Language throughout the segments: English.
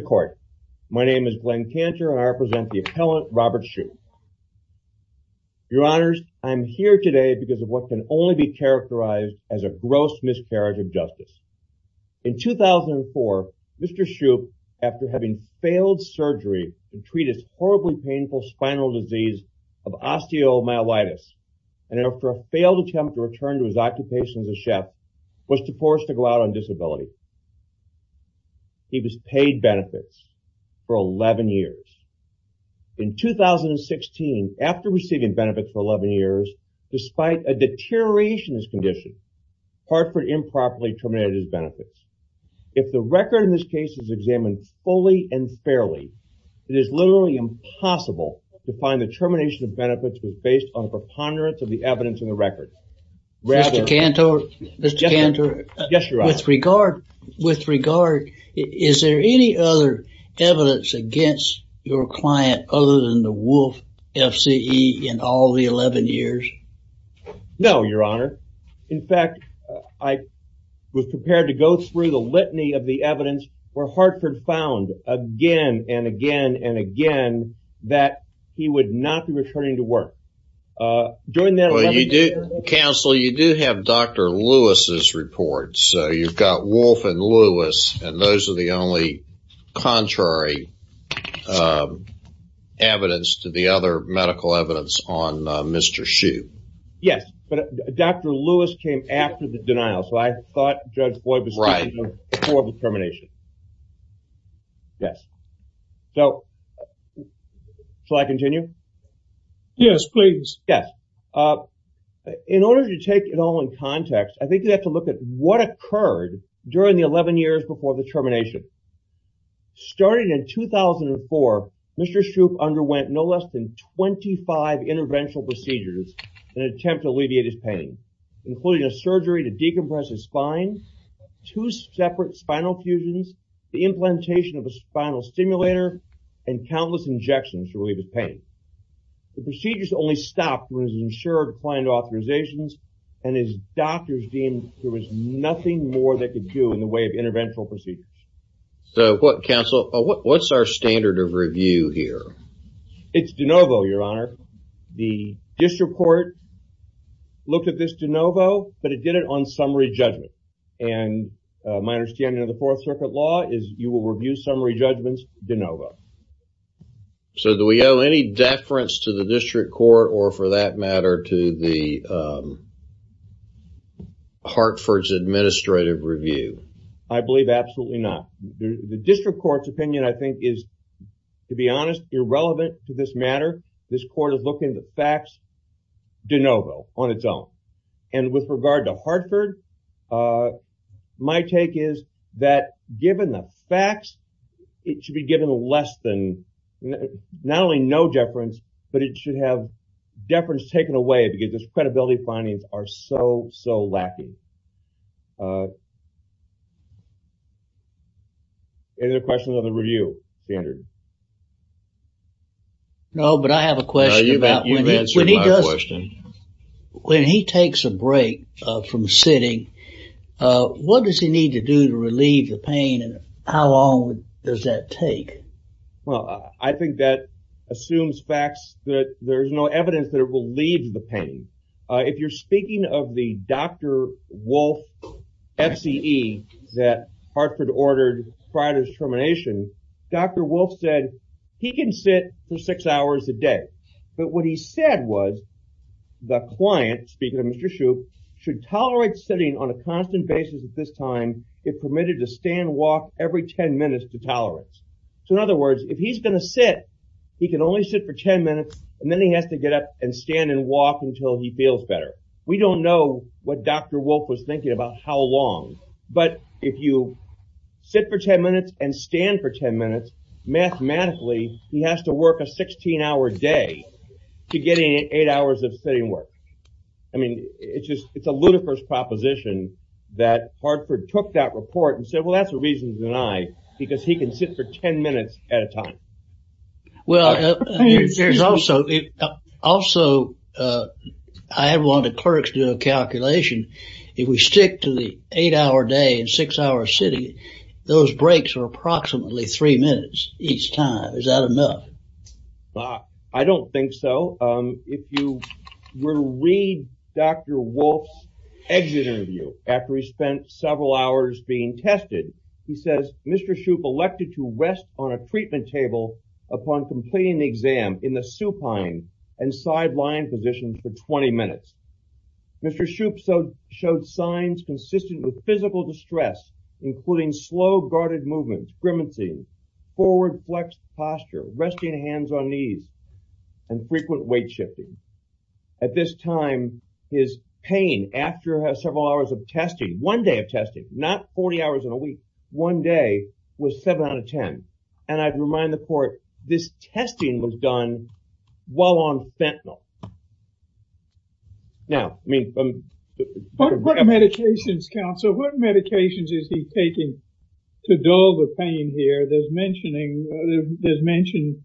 Court. My name is Glenn Cantor and I represent the appellant Robert Shupe. Your Honors, I'm here today because of what can only be characterized as a gross miscarriage of justice. In 2004, Mr. Shupe, after having failed surgery to treat his horribly painful spinal disease of osteomyelitis, and after a failed attempt to return to his occupation as a chef, was forced to go out on disability. He was paid benefits for 11 years. In 2016, after receiving benefits for 11 years, despite a deterioration in his condition, Hartford improperly terminated his benefits. If the record in this case is examined fully and fairly, it is literally impossible to find the termination of benefits was based on a preponderance of the evidence in the record. Mr. Cantor, with regard, is there any other evidence against your client other than the Wolf FCE in all the 11 years? No, Your Honor. In fact, I was prepared to go through the litany of the evidence where Hartford found again and again and again that he would not be returning to work. During that 11-year period. Counsel, you do have Dr. Lewis's report, so you've got Wolf and Lewis, and those are the only contrary evidence to the other medical evidence on Mr. Shupe. Yes, but Dr. Lewis came after the denial, so I thought Judge in order to take it all in context, I think you have to look at what occurred during the 11 years before the termination. Starting in 2004, Mr. Shupe underwent no less than 25 interventional procedures in an attempt to alleviate his pain, including a surgery to decompress his spine, two separate spinal fusions, the implantation of a spinal stimulator, and countless injections to relieve his client authorizations, and his doctors deemed there was nothing more they could do in the way of interventional procedures. So, what counsel, what's our standard of review here? It's de novo, Your Honor. The district court looked at this de novo, but it did it on summary judgment, and my understanding of the Fourth Circuit law is you will review summary judgments de novo. So, do we owe any deference to the district court, or for that matter, to the Hartford's administrative review? I believe absolutely not. The district court's opinion, I think, is, to be honest, irrelevant to this matter. This court is looking at the facts de novo on its own, and with regard to Hartford, my take is that given the facts, it should be given less than, not only no deference, but it should have deference taken away because its credibility findings are so, so lacking. Any other questions on the review standard? No, but I have a question about when he does, when he takes a break from sitting, what does he need to do to relieve the pain, and how long does that take? Well, I think that assumes facts that there's no evidence that it will leave the pain. If you're speaking of the Dr. Wolf FCE that Hartford ordered prior to his termination, Dr. Wolf said he can sit for six hours a day, but what he said was the client, speaking of Mr. Shoup, should tolerate sitting on a constant basis at this time if permitted to stand walk every 10 minutes to tolerance. So in other words, if he's going to sit, he can only sit for 10 minutes, and then he has to get up and stand and walk until he feels better. We don't know what Dr. Wolf was thinking about how long, but if you sit for 10 minutes and stand for 10 minutes, mathematically, he has to work a It's a ludicrous proposition that Hartford took that report and said, well, that's a reason to deny, because he can sit for 10 minutes at a time. Well, there's also, also, I had one of the clerks do a calculation. If we stick to the eight-hour day and six-hour sitting, those breaks are approximately three minutes each time. Is that enough? I don't think so. If you were to read Dr. Wolf's exit interview after he spent several hours being tested, he says, Mr. Shoup elected to rest on a treatment table upon completing the exam in the supine and side-lying position for 20 minutes. Mr. Shoup showed signs consistent with physical distress, including slow, guarded movements, grimacing, forward flexed posture, resting hands on knees, and frequent weight shifting. At this time, his pain after several hours of testing, one day of testing, not 40 hours in a week, one day, was 7 out of 10. And I'd remind the court, this testing was done while on fentanyl. Now, I mean... What medications, counsel, what medications is he taking to dull the pain here? There's mentioning, there's mentioned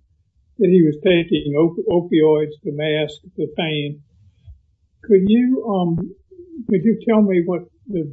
that he was taking opioids to mask the pain. Could you, um, could you tell me what the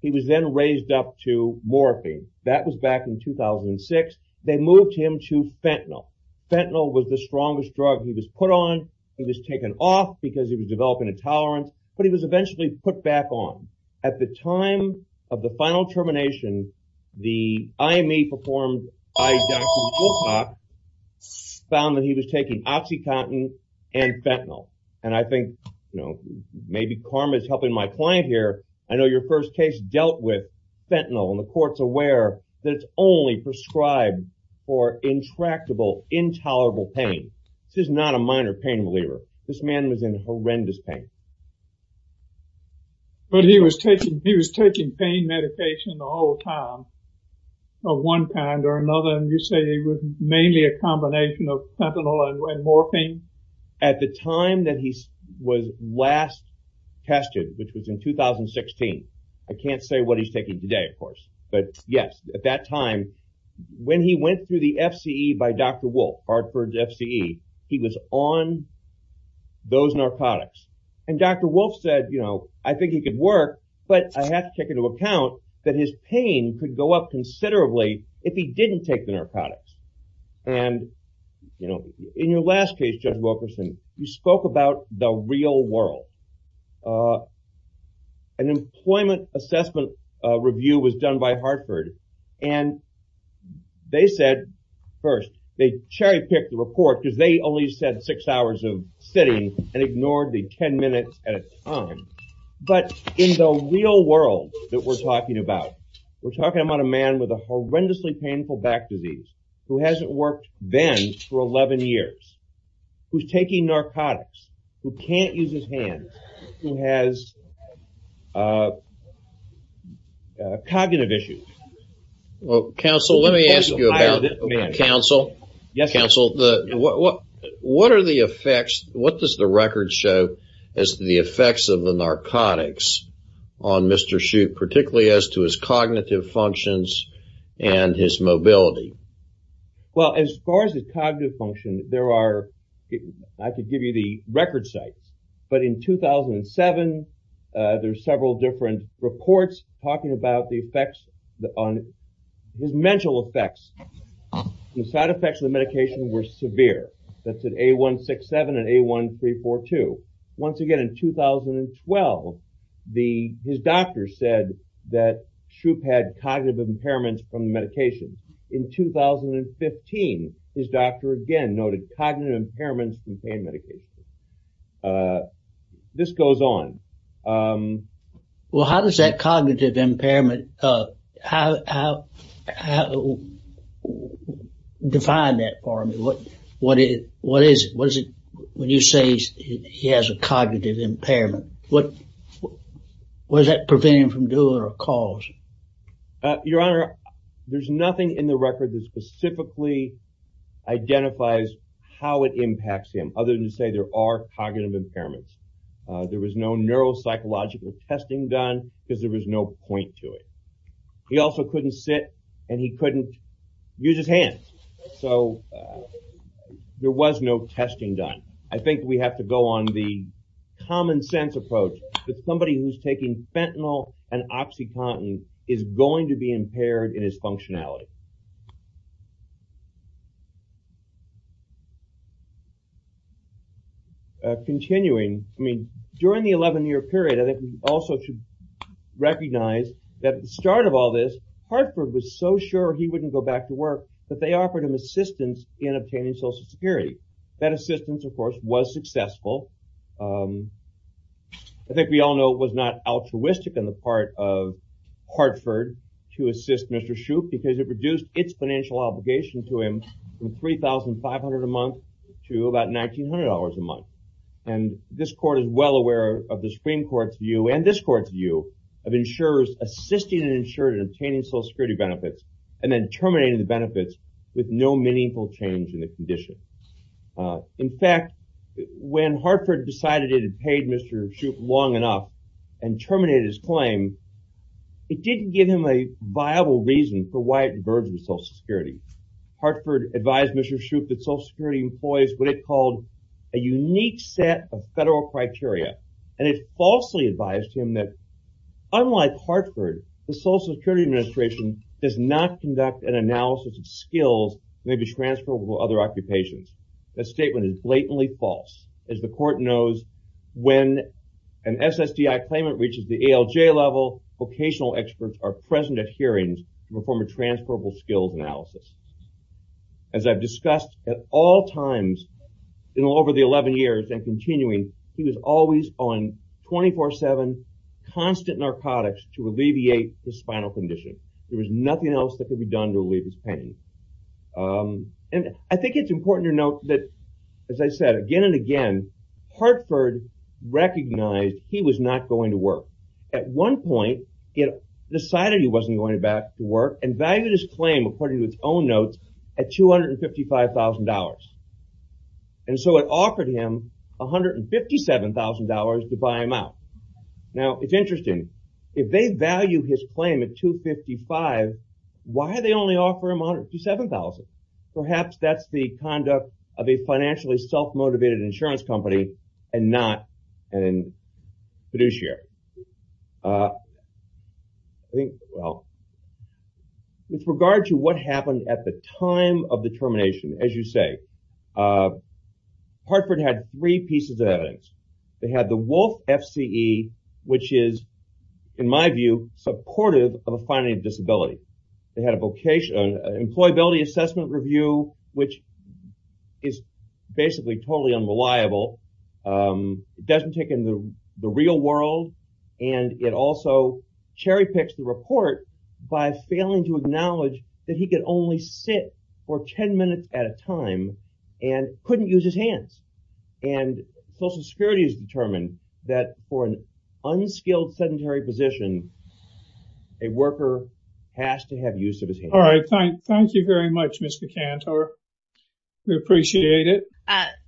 he was then raised up to morphine. That was back in 2006. They moved him to fentanyl. Fentanyl was the strongest drug he was put on. He was taken off because he was developing intolerance, but he was eventually put back on. At the time of the final termination, the IME performed by Dr. Wilcox found that he was taking OxyContin and fentanyl. And I think, you know, maybe karma is helping my client here. I know your first case dealt with fentanyl, and the court's aware that it's only prescribed for intractable, intolerable pain. This is not a minor pain reliever. This man was in horrendous pain. But he was taking, he was taking pain medication the whole time of one kind or another, and you say it was mainly a combination of fentanyl and morphine? At the time that he was last tested, which was in 2016, I can't say what he's taking today, of course, but yes, at that time, when he went through the FCE by Dr. Wolff, Hartford's FCE, he was on those narcotics. And Dr. Wolff said, you know, I think he could work, but I have to take into account that his pain could go up considerably if he didn't take the narcotics. And, you know, in your last case, Judge Wilkerson, you spoke about the real world. An employment assessment review was done by Hartford, and they said, first, they cherry-picked the report because they only said six hours of sitting and ignored the ten minutes at a time. But in the real world that we're talking about, we're talking about a man with a horrendously painful back disease who hasn't worked then for 11 years, who's taking narcotics, who can't use his hands, who has cognitive issues. Well, counsel, let me ask you about it, counsel. Yes, counsel. What are the effects, what does the record show as the effects of the narcotics on Mr. Shute, particularly as to his cognitive functions and his mental health? Well, as far as his cognitive function, there are, I could give you the record sites, but in 2007, there's several different reports talking about the effects on his mental effects. The side effects of the medication were severe. That's at A167 and A1342. Once again, in 2012, his doctor said that in 2015, his doctor again noted cognitive impairments in pain medication. This goes on. Well, how does that cognitive impairment, how do you define that for me? What is it, when you say he has a cognitive impairment, what does that prevent him from doing or cause? Your Honor, there's nothing in the record that specifically identifies how it impacts him, other than to say there are cognitive impairments. There was no neuropsychological testing done because there was no point to it. He also couldn't sit and he couldn't use his hands, so there was no testing done. I think we have to go on the common sense approach that somebody who's taking fentanyl and OxyContin is going to be able to do that. Continuing, I mean, during the 11-year period, I think we also should recognize that at the start of all this, Hartford was so sure he wouldn't go back to work that they offered him assistance in obtaining Social Security. That assistance, of course, was successful. I think we all know it was not altruistic on the part of Hartford to assist Mr. Shoup because it reduced its financial obligation to him from $3,500 a month to about $1,900 a month. This Court is well aware of the Supreme Court's view and this Court's view of insurers assisting an insurer in obtaining Social Security benefits and then terminating the benefits with no meaningful change in the condition. In fact, when Hartford decided it had paid Mr. Shoup long enough and terminated his claim, it didn't give him a viable reason for why it diverged with Social Security. Hartford advised Mr. Shoup that Social Security employs what it called a unique set of federal criteria and it falsely advised him that, unlike Hartford, the Social Security Administration does not conduct an analysis of skills that may be transferable to other occupations. That statement is blatantly false. As the Court knows, when an SSDI claimant reaches the ALJ level, vocational experts are present at hearings to perform a transferable skills analysis. As I've discussed at all times over the 11 years and continuing, he was always on 24-7 constant narcotics to alleviate the spinal condition. There was nothing else that could be done to relieve his pain. I think it's important to note that, as Hartford recognized, he was not going to work. At one point, it decided he wasn't going back to work and valued his claim according to its own notes at $255,000 and so it offered him $157,000 to buy him out. Now, it's interesting. If they value his claim at $255,000, why they only offer him $157,000? Perhaps that's the conduct of a financially self-motivated insurance company and not a fiduciary. With regard to what happened at the time of the termination, as you say, Hartford had three pieces of evidence. They had the Wolf FCE, which is, in my view, supportive of a finding of disability. They had a doesn't take in the real world and it also cherry-picks the report by failing to acknowledge that he could only sit for 10 minutes at a time and couldn't use his hands. Social Security has determined that for an unskilled sedentary position, a worker has to have use of his hands. All right, thank you very much, Mr. Cantor. We appreciate it.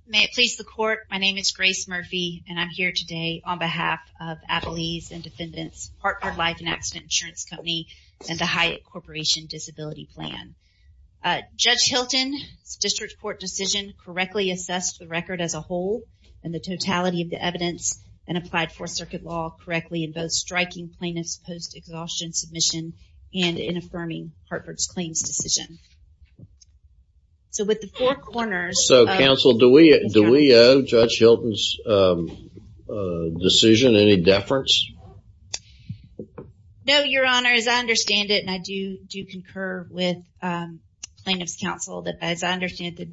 May it please the court, my name is Grace Murphy and I'm here today on behalf of Abilese and Defendants, Hartford Life and Accident Insurance Company, and the Hyatt Corporation Disability Plan. Judge Hilton's district court decision correctly assessed the record as a whole and the totality of the evidence and applied Fourth Circuit law correctly in both striking plaintiffs post-exhaustion submission and in affirming Hartford's claims decision. So with the four corners... So counsel, do we owe Judge Hilton's decision any deference? No, your honor, as I understand it, and I do do concur with plaintiffs counsel, that as I understand it,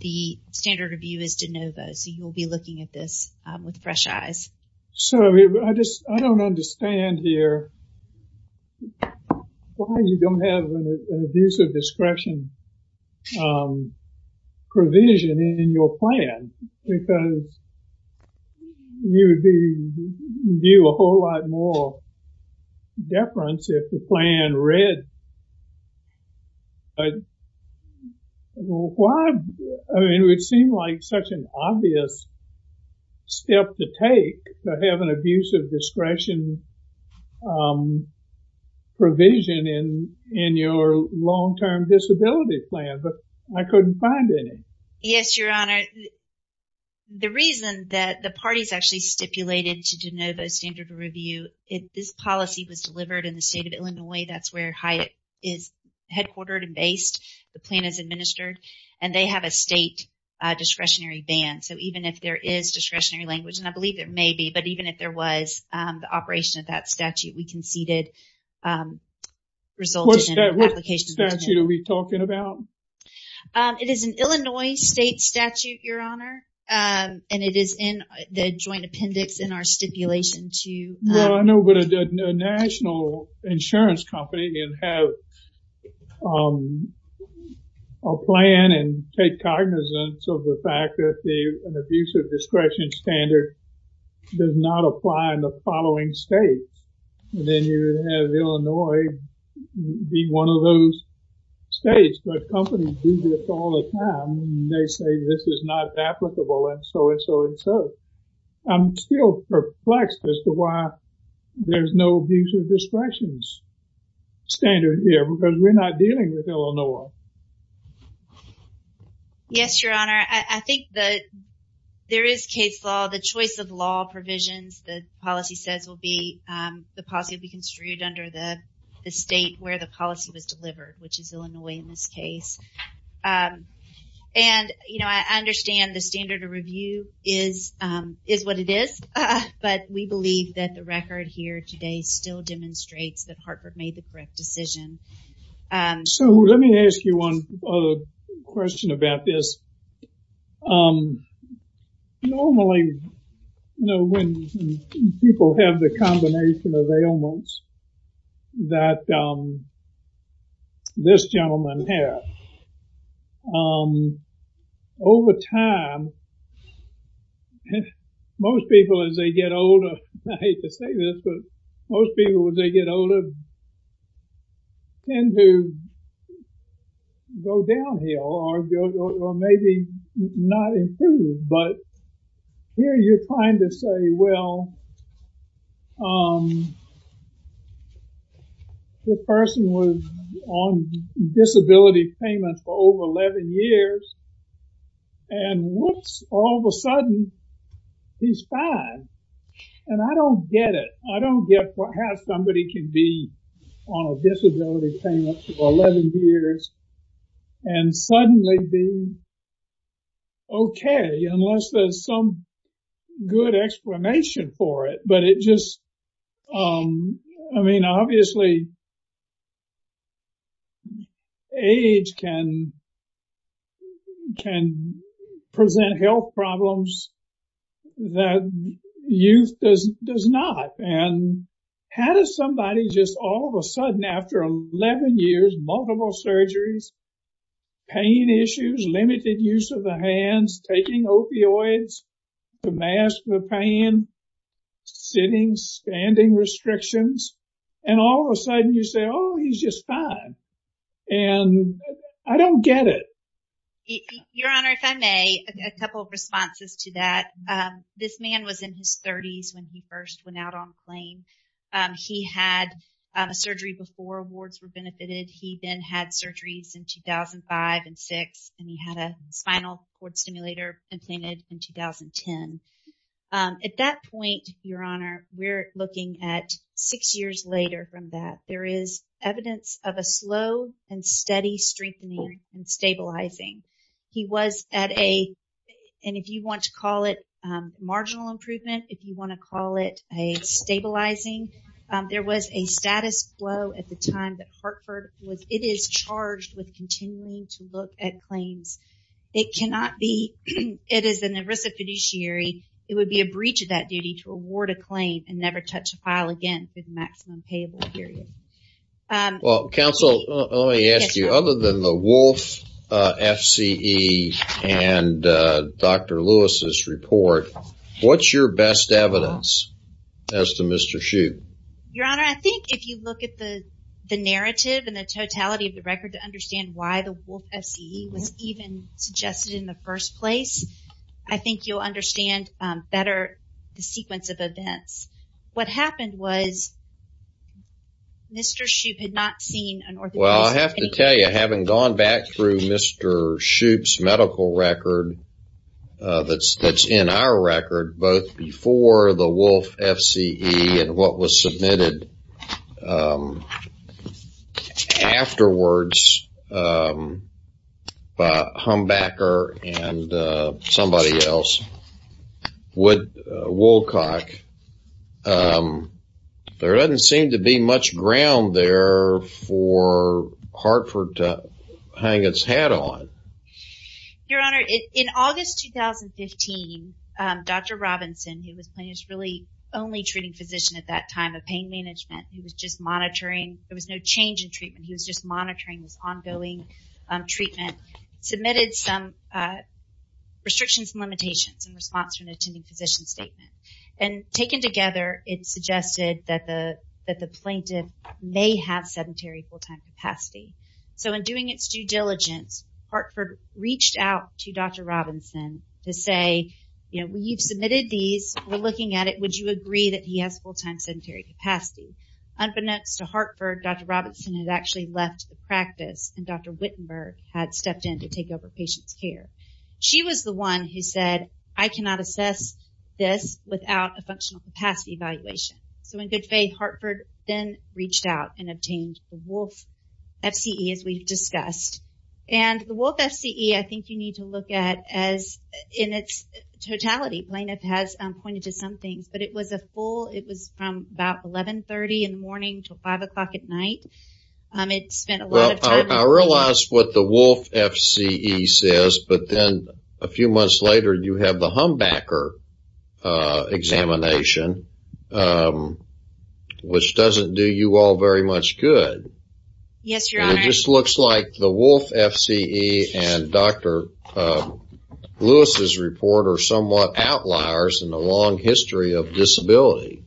the standard of view is de novo, so you'll be looking at this with why you don't have an abuse of discretion provision in your plan because you would be due a whole lot more deference if the plan read, but why, I mean it would seem like such an obvious step to take to have an abuse of provision in your long-term disability plan, but I couldn't find any. Yes, your honor, the reason that the parties actually stipulated to de novo standard of review, if this policy was delivered in the state of Illinois, that's where Hyatt is headquartered and based, the plan is administered, and they have a state discretionary ban, so even if there is discretionary language, and I believe it may be, but even if there was the operation of that statute, we conceded resulting in an application... What statute are we talking about? It is an Illinois state statute, your honor, and it is in the joint appendix in our stipulation to... Well, I know, but a national insurance company can have a plan and take it, but I'm still perplexed as to why there's no abuse of discretion standard here, because we're not dealing with Illinois. Yes, your honor, I think that there is case law, the choice of law provisions the policy says will be, the policy will be construed under the state where the policy was delivered, which is Illinois in this case, and you know, I understand the standard of review is what it is, but we believe that the record here today still demonstrates that Harper made the correct decision. So let me ask you one other question about this. Normally, you know, when people have the combination of ailments that this gentleman had, over time, most people as they get older, I hate to say this, but most people, as they get older, tend to go downhill, or maybe not improve, but here you're trying to say, well, this person was on disability payment for over 11 years, and whoops, all of a sudden, and I don't get it. I don't get how somebody can be on a disability payment for 11 years, and suddenly be okay, unless there's some good explanation for it. But it just, I mean, obviously, age can present health problems that youth does not, and how does somebody just all of a sudden, after 11 years, multiple surgeries, pain issues, limited use of the hands, taking opioids, to mask the pain, sitting, standing restrictions, and all of a sudden, you say, oh, he's just fine, and I don't get it. Your Honor, if I may, a couple of responses to that. This man was in his 30s when he first went out on the plane. He had a surgery before wards were benefited. He then had surgeries in 2005 and 2006, and he had a spinal cord stimulator implanted in 2010. At that point, Your Honor, we're looking at six years later from that. There is evidence of a slow and steady strengthening and stabilizing. He was at a, and if you want to call it marginal improvement, if you want to call it a stabilizing, there was a status quo at the time that Hartford was, it is charged with continuing to look at claims. It cannot be, it is an ERISA fiduciary. It would be a breach of that duty to award a claim and never touch a file again for the maximum payable period. Well, counsel, let me ask you, other than the Wolf FCE and Dr. Lewis's report, what's your best evidence as to Mr. Hsu? Your Honor, I think if you look at the narrative and the totality of the record to understand why the Wolf FCE was even suggested in the first place, I think you'll understand better the sequence of events. What happened was Mr. Hsu had not seen an orthopedic. Afterwards, Humbacker and somebody else, Wood, Wolcock, there doesn't seem to be much ground there for Hartford to hang its hat on. Your Honor, in August 2015, Dr. Robinson, who was plaintiff's really only treating physician at that time of pain management, who was just monitoring, there was no change in treatment, he was just monitoring this ongoing treatment, submitted some restrictions and limitations in response to an attending physician's statement. Taken together, it suggested that the plaintiff may have sedentary full-time capacity. So in doing its due diligence, Hartford reached out to Dr. Robinson to say, we've submitted these, we're looking at it, would you agree that he has full-time sedentary capacity? Unbeknownst to Hartford, Dr. Robinson had actually left the practice and Dr. Wittenberg had stepped in to take over patient's care. She was the one who said, I cannot assess this without a functional capacity evaluation. So in good faith, Hartford then reached out and obtained the Wolf FCE as we've discussed. And the Wolf FCE, I think you need to look at as in its totality, plaintiff has pointed to some things, but it was a full, it was from about 1130 in the morning to five o'clock at night. It spent a lot of time. I realize what the Wolf FCE says, but then a few months later, you have the Humbacker examination, which doesn't do you all very much good. Yes, Your Honor. It just looks like the Wolf FCE and Dr. Lewis's report are somewhat outliers in the long history of disability.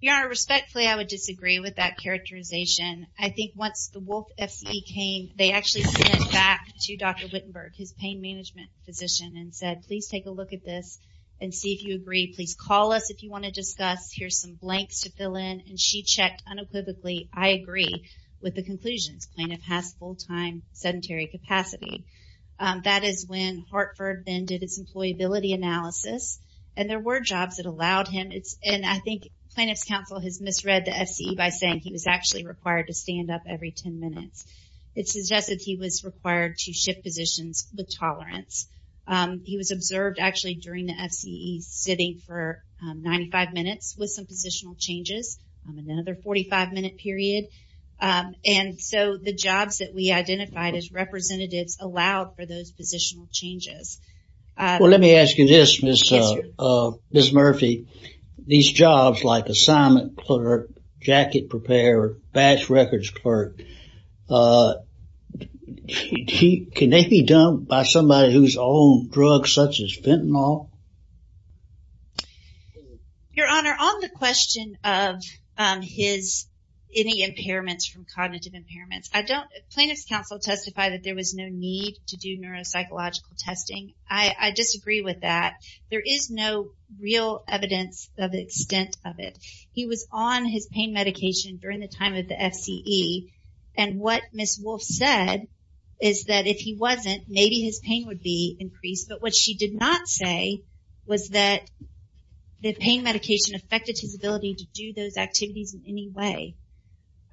Your Honor, respectfully, I would disagree with that characterization. I think once the Wolf FCE came, they actually sent it back to Dr. Wittenberg, his pain management physician and said, please take a look at this and see if you agree. Please call us if you want to discuss. Here's some blanks to fill in. And she checked unequivocally. I agree with the conclusions. Plaintiff has full-time sedentary capacity. That is when Hartford then did his employability analysis and there were jobs that allowed him. And I think plaintiff's counsel has misread the FCE by saying he was actually required to stand up every 10 minutes. It suggested he was required to shift positions with tolerance. He was observed actually during the FCE sitting for 95 minutes with some positional changes, another 45 minute period. And so the jobs that we identified as representatives allowed for those positional changes. Well, let me ask you this, Ms. Murphy. These jobs like assignment clerk, jacket preparer, batch records clerk, can they be done by somebody who's on drugs such as fentanyl? Your Honor, on the question of his, any impairments from cognitive impairments, I don't, plaintiff's counsel testified that there was no need to do neuropsychological testing. I disagree with that. There is no real evidence of the extent of it. He was on his pain medication during the time of the FCE. And what Ms. Wolfe said is that if he wasn't, maybe his pain would be increased. But what she did not say was that the pain medication affected his ability to do those activities in any way.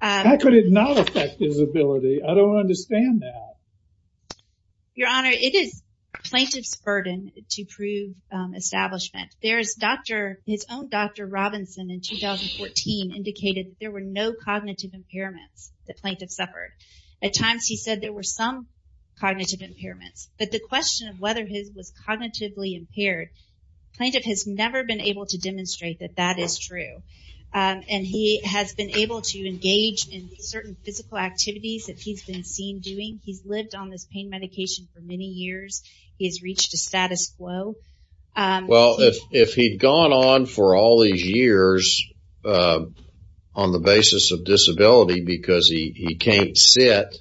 How could it not affect his ability? I don't understand that. Your Honor, it is plaintiff's burden to prove establishment. There's Dr., his own Dr. Robinson in 2014 indicated there were no cognitive impairments that plaintiff suffered. At times he said there were some cognitive impairments. But the question of whether his was cognitively impaired, plaintiff has never been able to demonstrate that that is true. And he has been able to engage in certain physical activities that he's been seen doing. He's lived on this pain medication for many years. He's reached a status quo. Well, if he'd gone on for all these years on the basis of disability because he can't sit,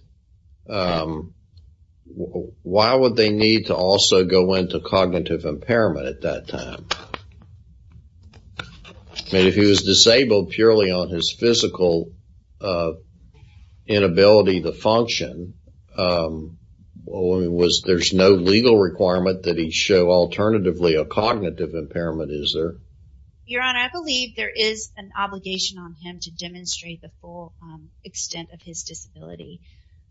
why would they need to also go into cognitive impairment at that time? I mean, if he was disabled purely on his physical inability to function, there's no legal requirement that he show alternatively a cognitive impairment, is there? Your Honor, I believe there is an obligation on him to demonstrate the full extent of his disability.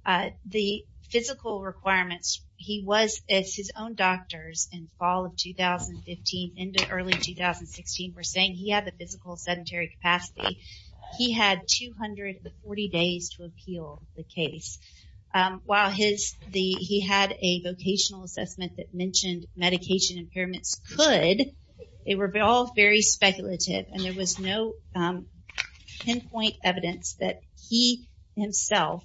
The physical requirements, he was, as his own doctors in fall of 2015 into early 2016 were saying he had the physical sedentary capacity. He had 240 days to appeal the case. While he had a vocational assessment that mentioned medication impairments could, they were all very speculative. And there was no pinpoint evidence that he himself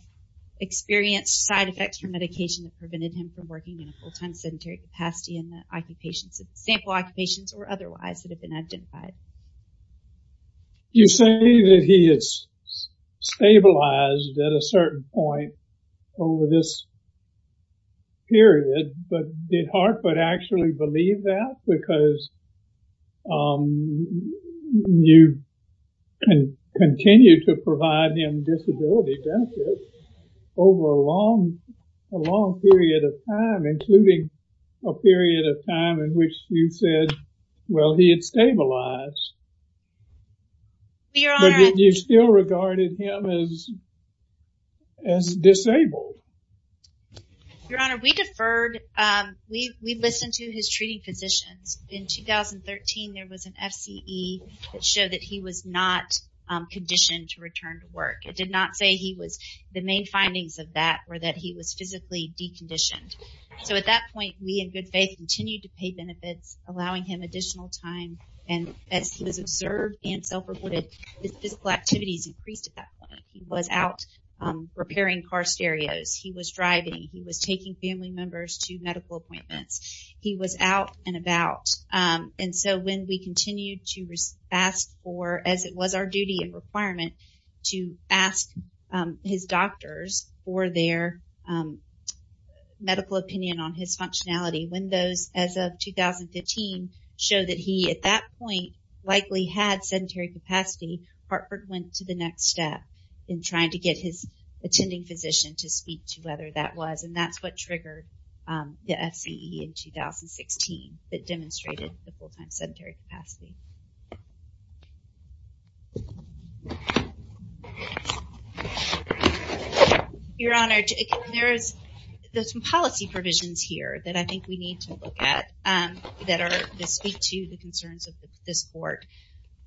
experienced side effects from medication that prevented him from working in a full time sedentary capacity in the occupations, sample occupations or otherwise that have been identified. You say that he is stabilized at a certain point over this period, but did Hartford actually believe that? Because you can continue to provide him disability benefits over a long, a long period of time, including a period of time in which you said, well, he had stabilized. But did you still regarded him as disabled? Your Honor, we deferred, we listened to his treating physicians. In 2013, there was an FCE that showed that he was not conditioned to return to work. It did not say he was, the main findings of that were that he was physically deconditioned. So at that point, we in good faith continued to pay benefits, allowing him additional time. And as he was observed and self-reported, his physical activities increased at that point. He was out repairing car stereos. He was driving. He was taking family members to medical appointments. He was out and about. And so when we continued to ask for, as it was our duty and requirement to ask his doctors for their medical opinion on his functionality, when those as of 2015 show that he at that point likely had sedentary capacity, Hartford went to the next step. Trying to get his attending physician to speak to whether that was. And that's what triggered the FCE in 2016 that demonstrated the full-time sedentary capacity. Your Honor, there's some policy provisions here that I think we need to look at that are to speak to the concerns of this Court.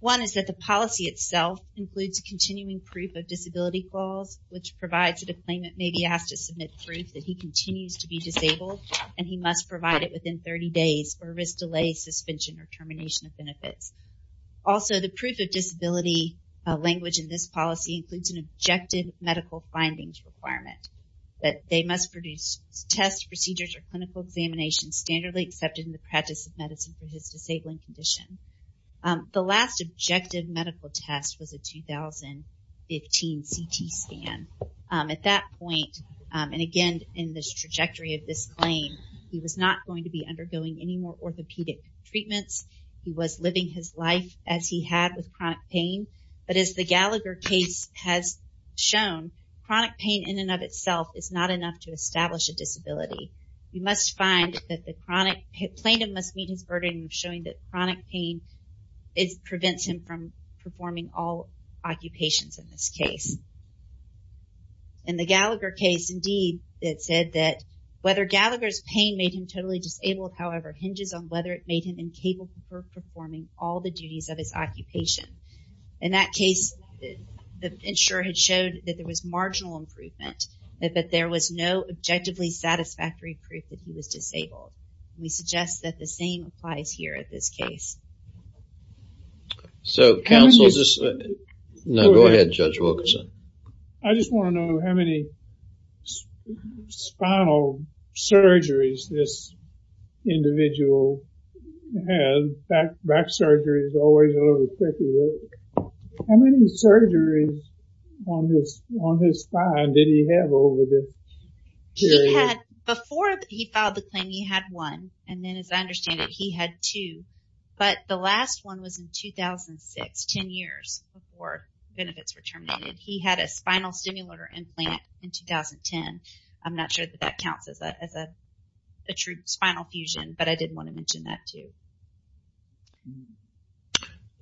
One is that the policy itself includes a continuing proof of disability clause, which provides that a claimant may be asked to submit proof that he continues to be disabled and he must provide it within 30 days or risk delay, suspension, or termination of benefits. Also, the proof of disability language in this policy includes an objective medical findings requirement that they must produce tests, procedures, or clinical examinations standardly accepted in the practice of medicine for his disabling condition. The last objective medical test was a 2015 CT scan. At that point, and again in this trajectory of this claim, he was not going to be undergoing any more orthopedic treatments. He was living his life as he had with chronic pain. But as the Gallagher case has shown, chronic pain in and of itself is not enough to establish a disability. You must find that the chronic, plaintiff must meet his burden of showing that chronic pain prevents him from performing all occupations in this case. In the Gallagher case, indeed, it said that whether Gallagher's pain made him totally disabled, however, hinges on whether it made him incapable of performing all the duties of his occupation. In that case, the insurer had showed that there was marginal improvement, that there was no objectively satisfactory proof that he was disabled. We suggest that the same applies here at this case. So counsel, no, go ahead, Judge Wilkerson. I just want to know how many spinal surgeries this individual had, back surgery is always a little tricky. How many surgeries on his spine did he have over this period? Before he filed the claim, he had one. And then as I understand it, he had two. But the last one was in 2006, 10 years before benefits were terminated. He had a spinal stimulator implant in 2010. I'm not sure that that counts as a true spinal fusion, but I did want to mention that too.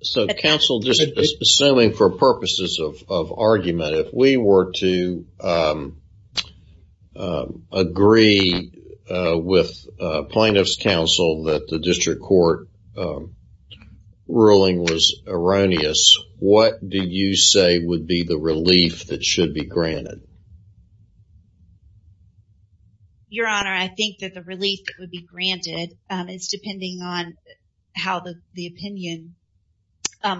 So counsel, just assuming for purposes of argument, if we were to agree with plaintiff's counsel that the district court ruling was erroneous, what do you say would be the relief that should be granted? Your Honor, I think that the relief that would be granted is depending on how the opinion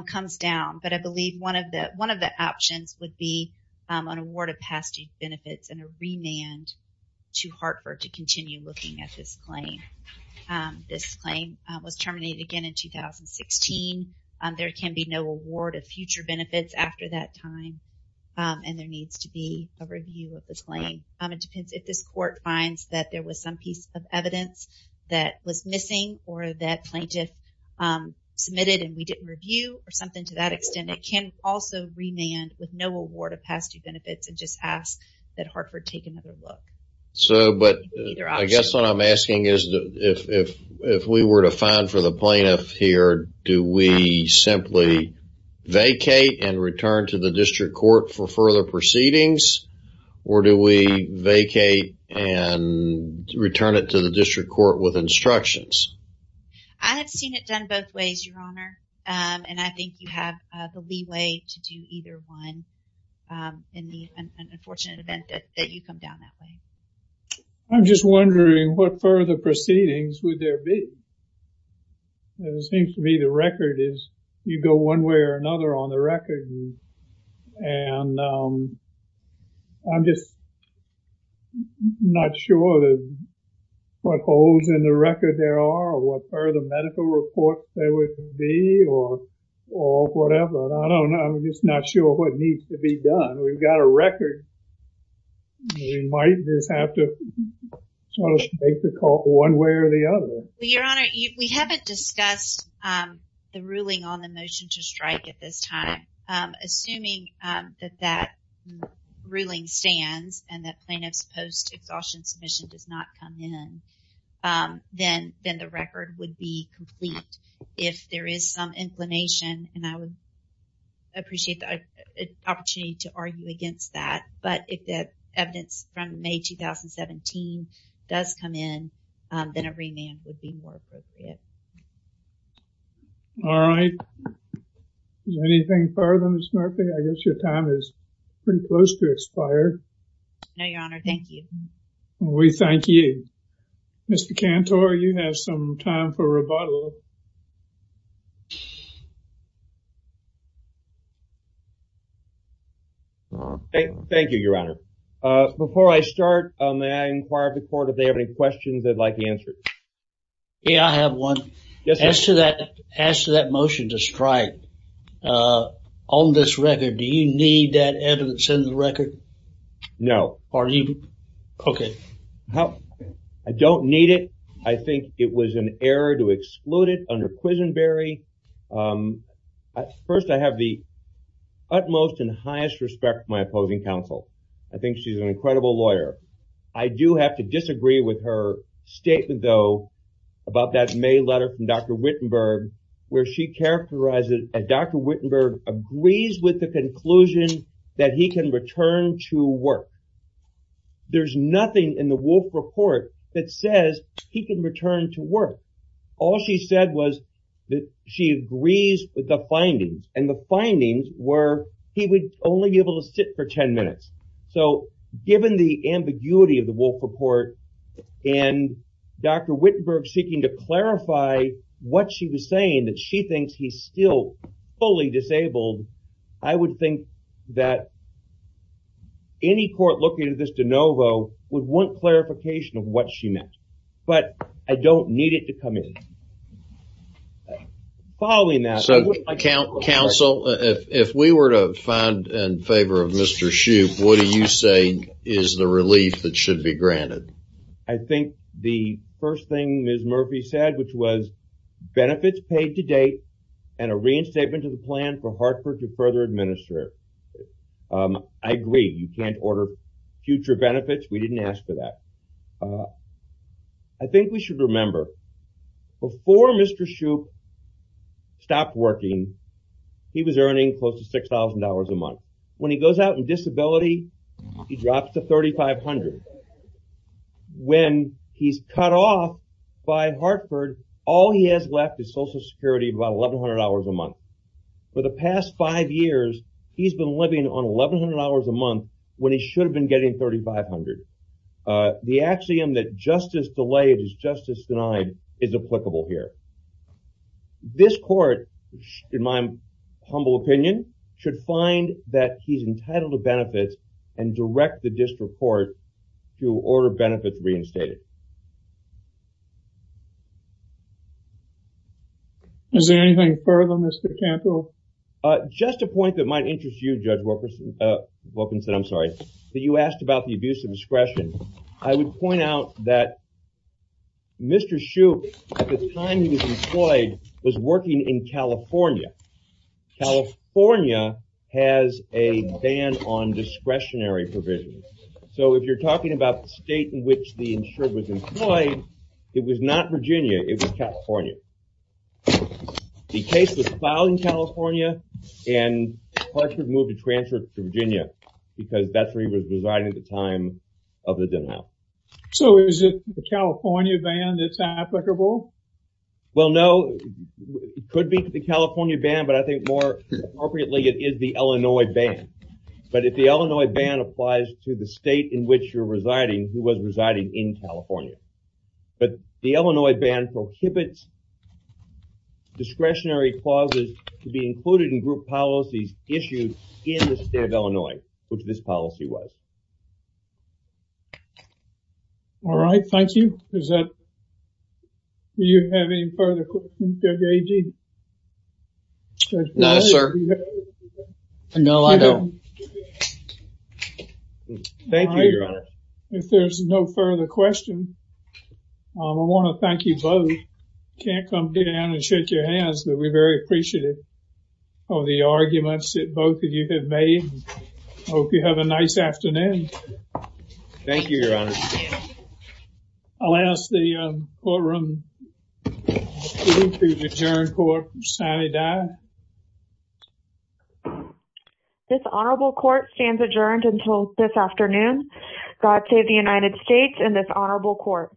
comes down. But I believe one of the options would be an award of past benefits and a remand to Hartford to continue looking at this claim. This claim was terminated again in 2016. There can be no award of future benefits after that time. And there needs to be a review of this claim. It depends if this court finds that there was some piece of evidence that was missing or that plaintiff submitted and we didn't review or something to that extent. It can also remand with no award of past due benefits and just ask that Hartford take another look. So, but I guess what I'm asking is if we were to find for the plaintiff here, do we simply vacate and return to the district court for further proceedings? Or do we vacate and return it to the district court with instructions? I have seen it done both ways, Your Honor. And I think you have the leeway to do either one in the unfortunate event that you come down that way. I'm just wondering what further proceedings would there be? It seems to me the record is you go one way or another on the record. And I'm just not sure what holds in the record there are or what further medical reports there would be or whatever. I don't know. I'm just not sure what needs to be done. We've got a record. We might just have to sort of make the call one way or the other. Your Honor, we haven't discussed the ruling on the motion to strike at this time. Assuming that that ruling stands and that plaintiff's post-exhaustion submission does not come in, then the record would be complete. If there is some inclination, and I would appreciate the opportunity to argue against that, but if that evidence from May 2017 does come in, then a remand would be more appropriate. All right. Is there anything further, Ms. Murphy? I guess your time is pretty close to expire. No, Your Honor. Thank you. Mr. Cantor, you have some time for rebuttal. Thank you, Your Honor. Before I start, may I inquire of the court if they have any questions they'd like answered. Yeah, I have one. Yes, sir. As to that motion to strike, on this record, do you need that evidence in the record? No. Are you? Okay. I think it was an error to exclude it from the record. Under Quisenberry, first, I have the utmost and highest respect for my opposing counsel. I think she's an incredible lawyer. I do have to disagree with her statement, though, about that May letter from Dr. Wittenberg, where she characterizes that Dr. Wittenberg agrees with the conclusion that he can return to work. There's nothing in the Wolf Report that says he can return to work. All she said was that she agrees with the findings, and the findings were he would only be able to sit for 10 minutes. So given the ambiguity of the Wolf Report and Dr. Wittenberg seeking to clarify what she was saying, that she thinks he's still fully disabled, I would think that any court looking at this de novo would want clarification of what she meant. But I don't need it to come in. Following that- So counsel, if we were to find in favor of Mr. Shoup, what do you say is the relief that should be granted? I think the first thing Ms. Murphy said, which was benefits paid to date and a reinstatement of the plan for Hartford to further administer. I agree. You can't order future benefits. We didn't ask for that. I think we should remember, before Mr. Shoup stopped working, he was earning close to $6,000 a month. When he goes out in disability, he drops to $3,500. When he's cut off by Hartford, all he has left is Social Security of about $1,100 a month. For the past five years, he's been living on $1,100 a month when he should have been getting $3,500. The axiom that justice delayed is justice denied is applicable here. This court, in my humble opinion, should find that he's entitled to benefits and direct the district court to order benefits reinstated. Is there anything further, Mr. Cantwell? Just a point that might interest you, Judge Wilkinson, that you asked about the abuse of discretion. I would point out that Mr. Shoup, at the time he was employed, was working in California. California has a ban on discretionary provisions. So if you're talking about the state in which the insured was employed, it was not Virginia, it was California. The case was filed in California and Hartford moved to transfer to Virginia because that's where he was residing at the time of the denial. So is it the California ban that's applicable? Well, no. It could be the California ban, but I think more appropriately, it is the Illinois ban. But if the Illinois ban applies to the state in which you're residing, he was residing in California. But the Illinois ban prohibits discretionary clauses to be included in group policies issued in the state of Illinois, which this policy was. All right. Thank you. Is that, do you have any further questions, Judge Agee? No, sir. No, I don't. Thank you, Your Honor. If there's no further questions, I want to thank you both. Can't come down and shake your hands, but we're very appreciative of the arguments that both of you have made. Hope you have a nice afternoon. Thank you, Your Honor. I'll ask the courtroom to adjourn court, Sani Dye. This honorable court stands adjourned until this afternoon. God save the United States and this honorable court.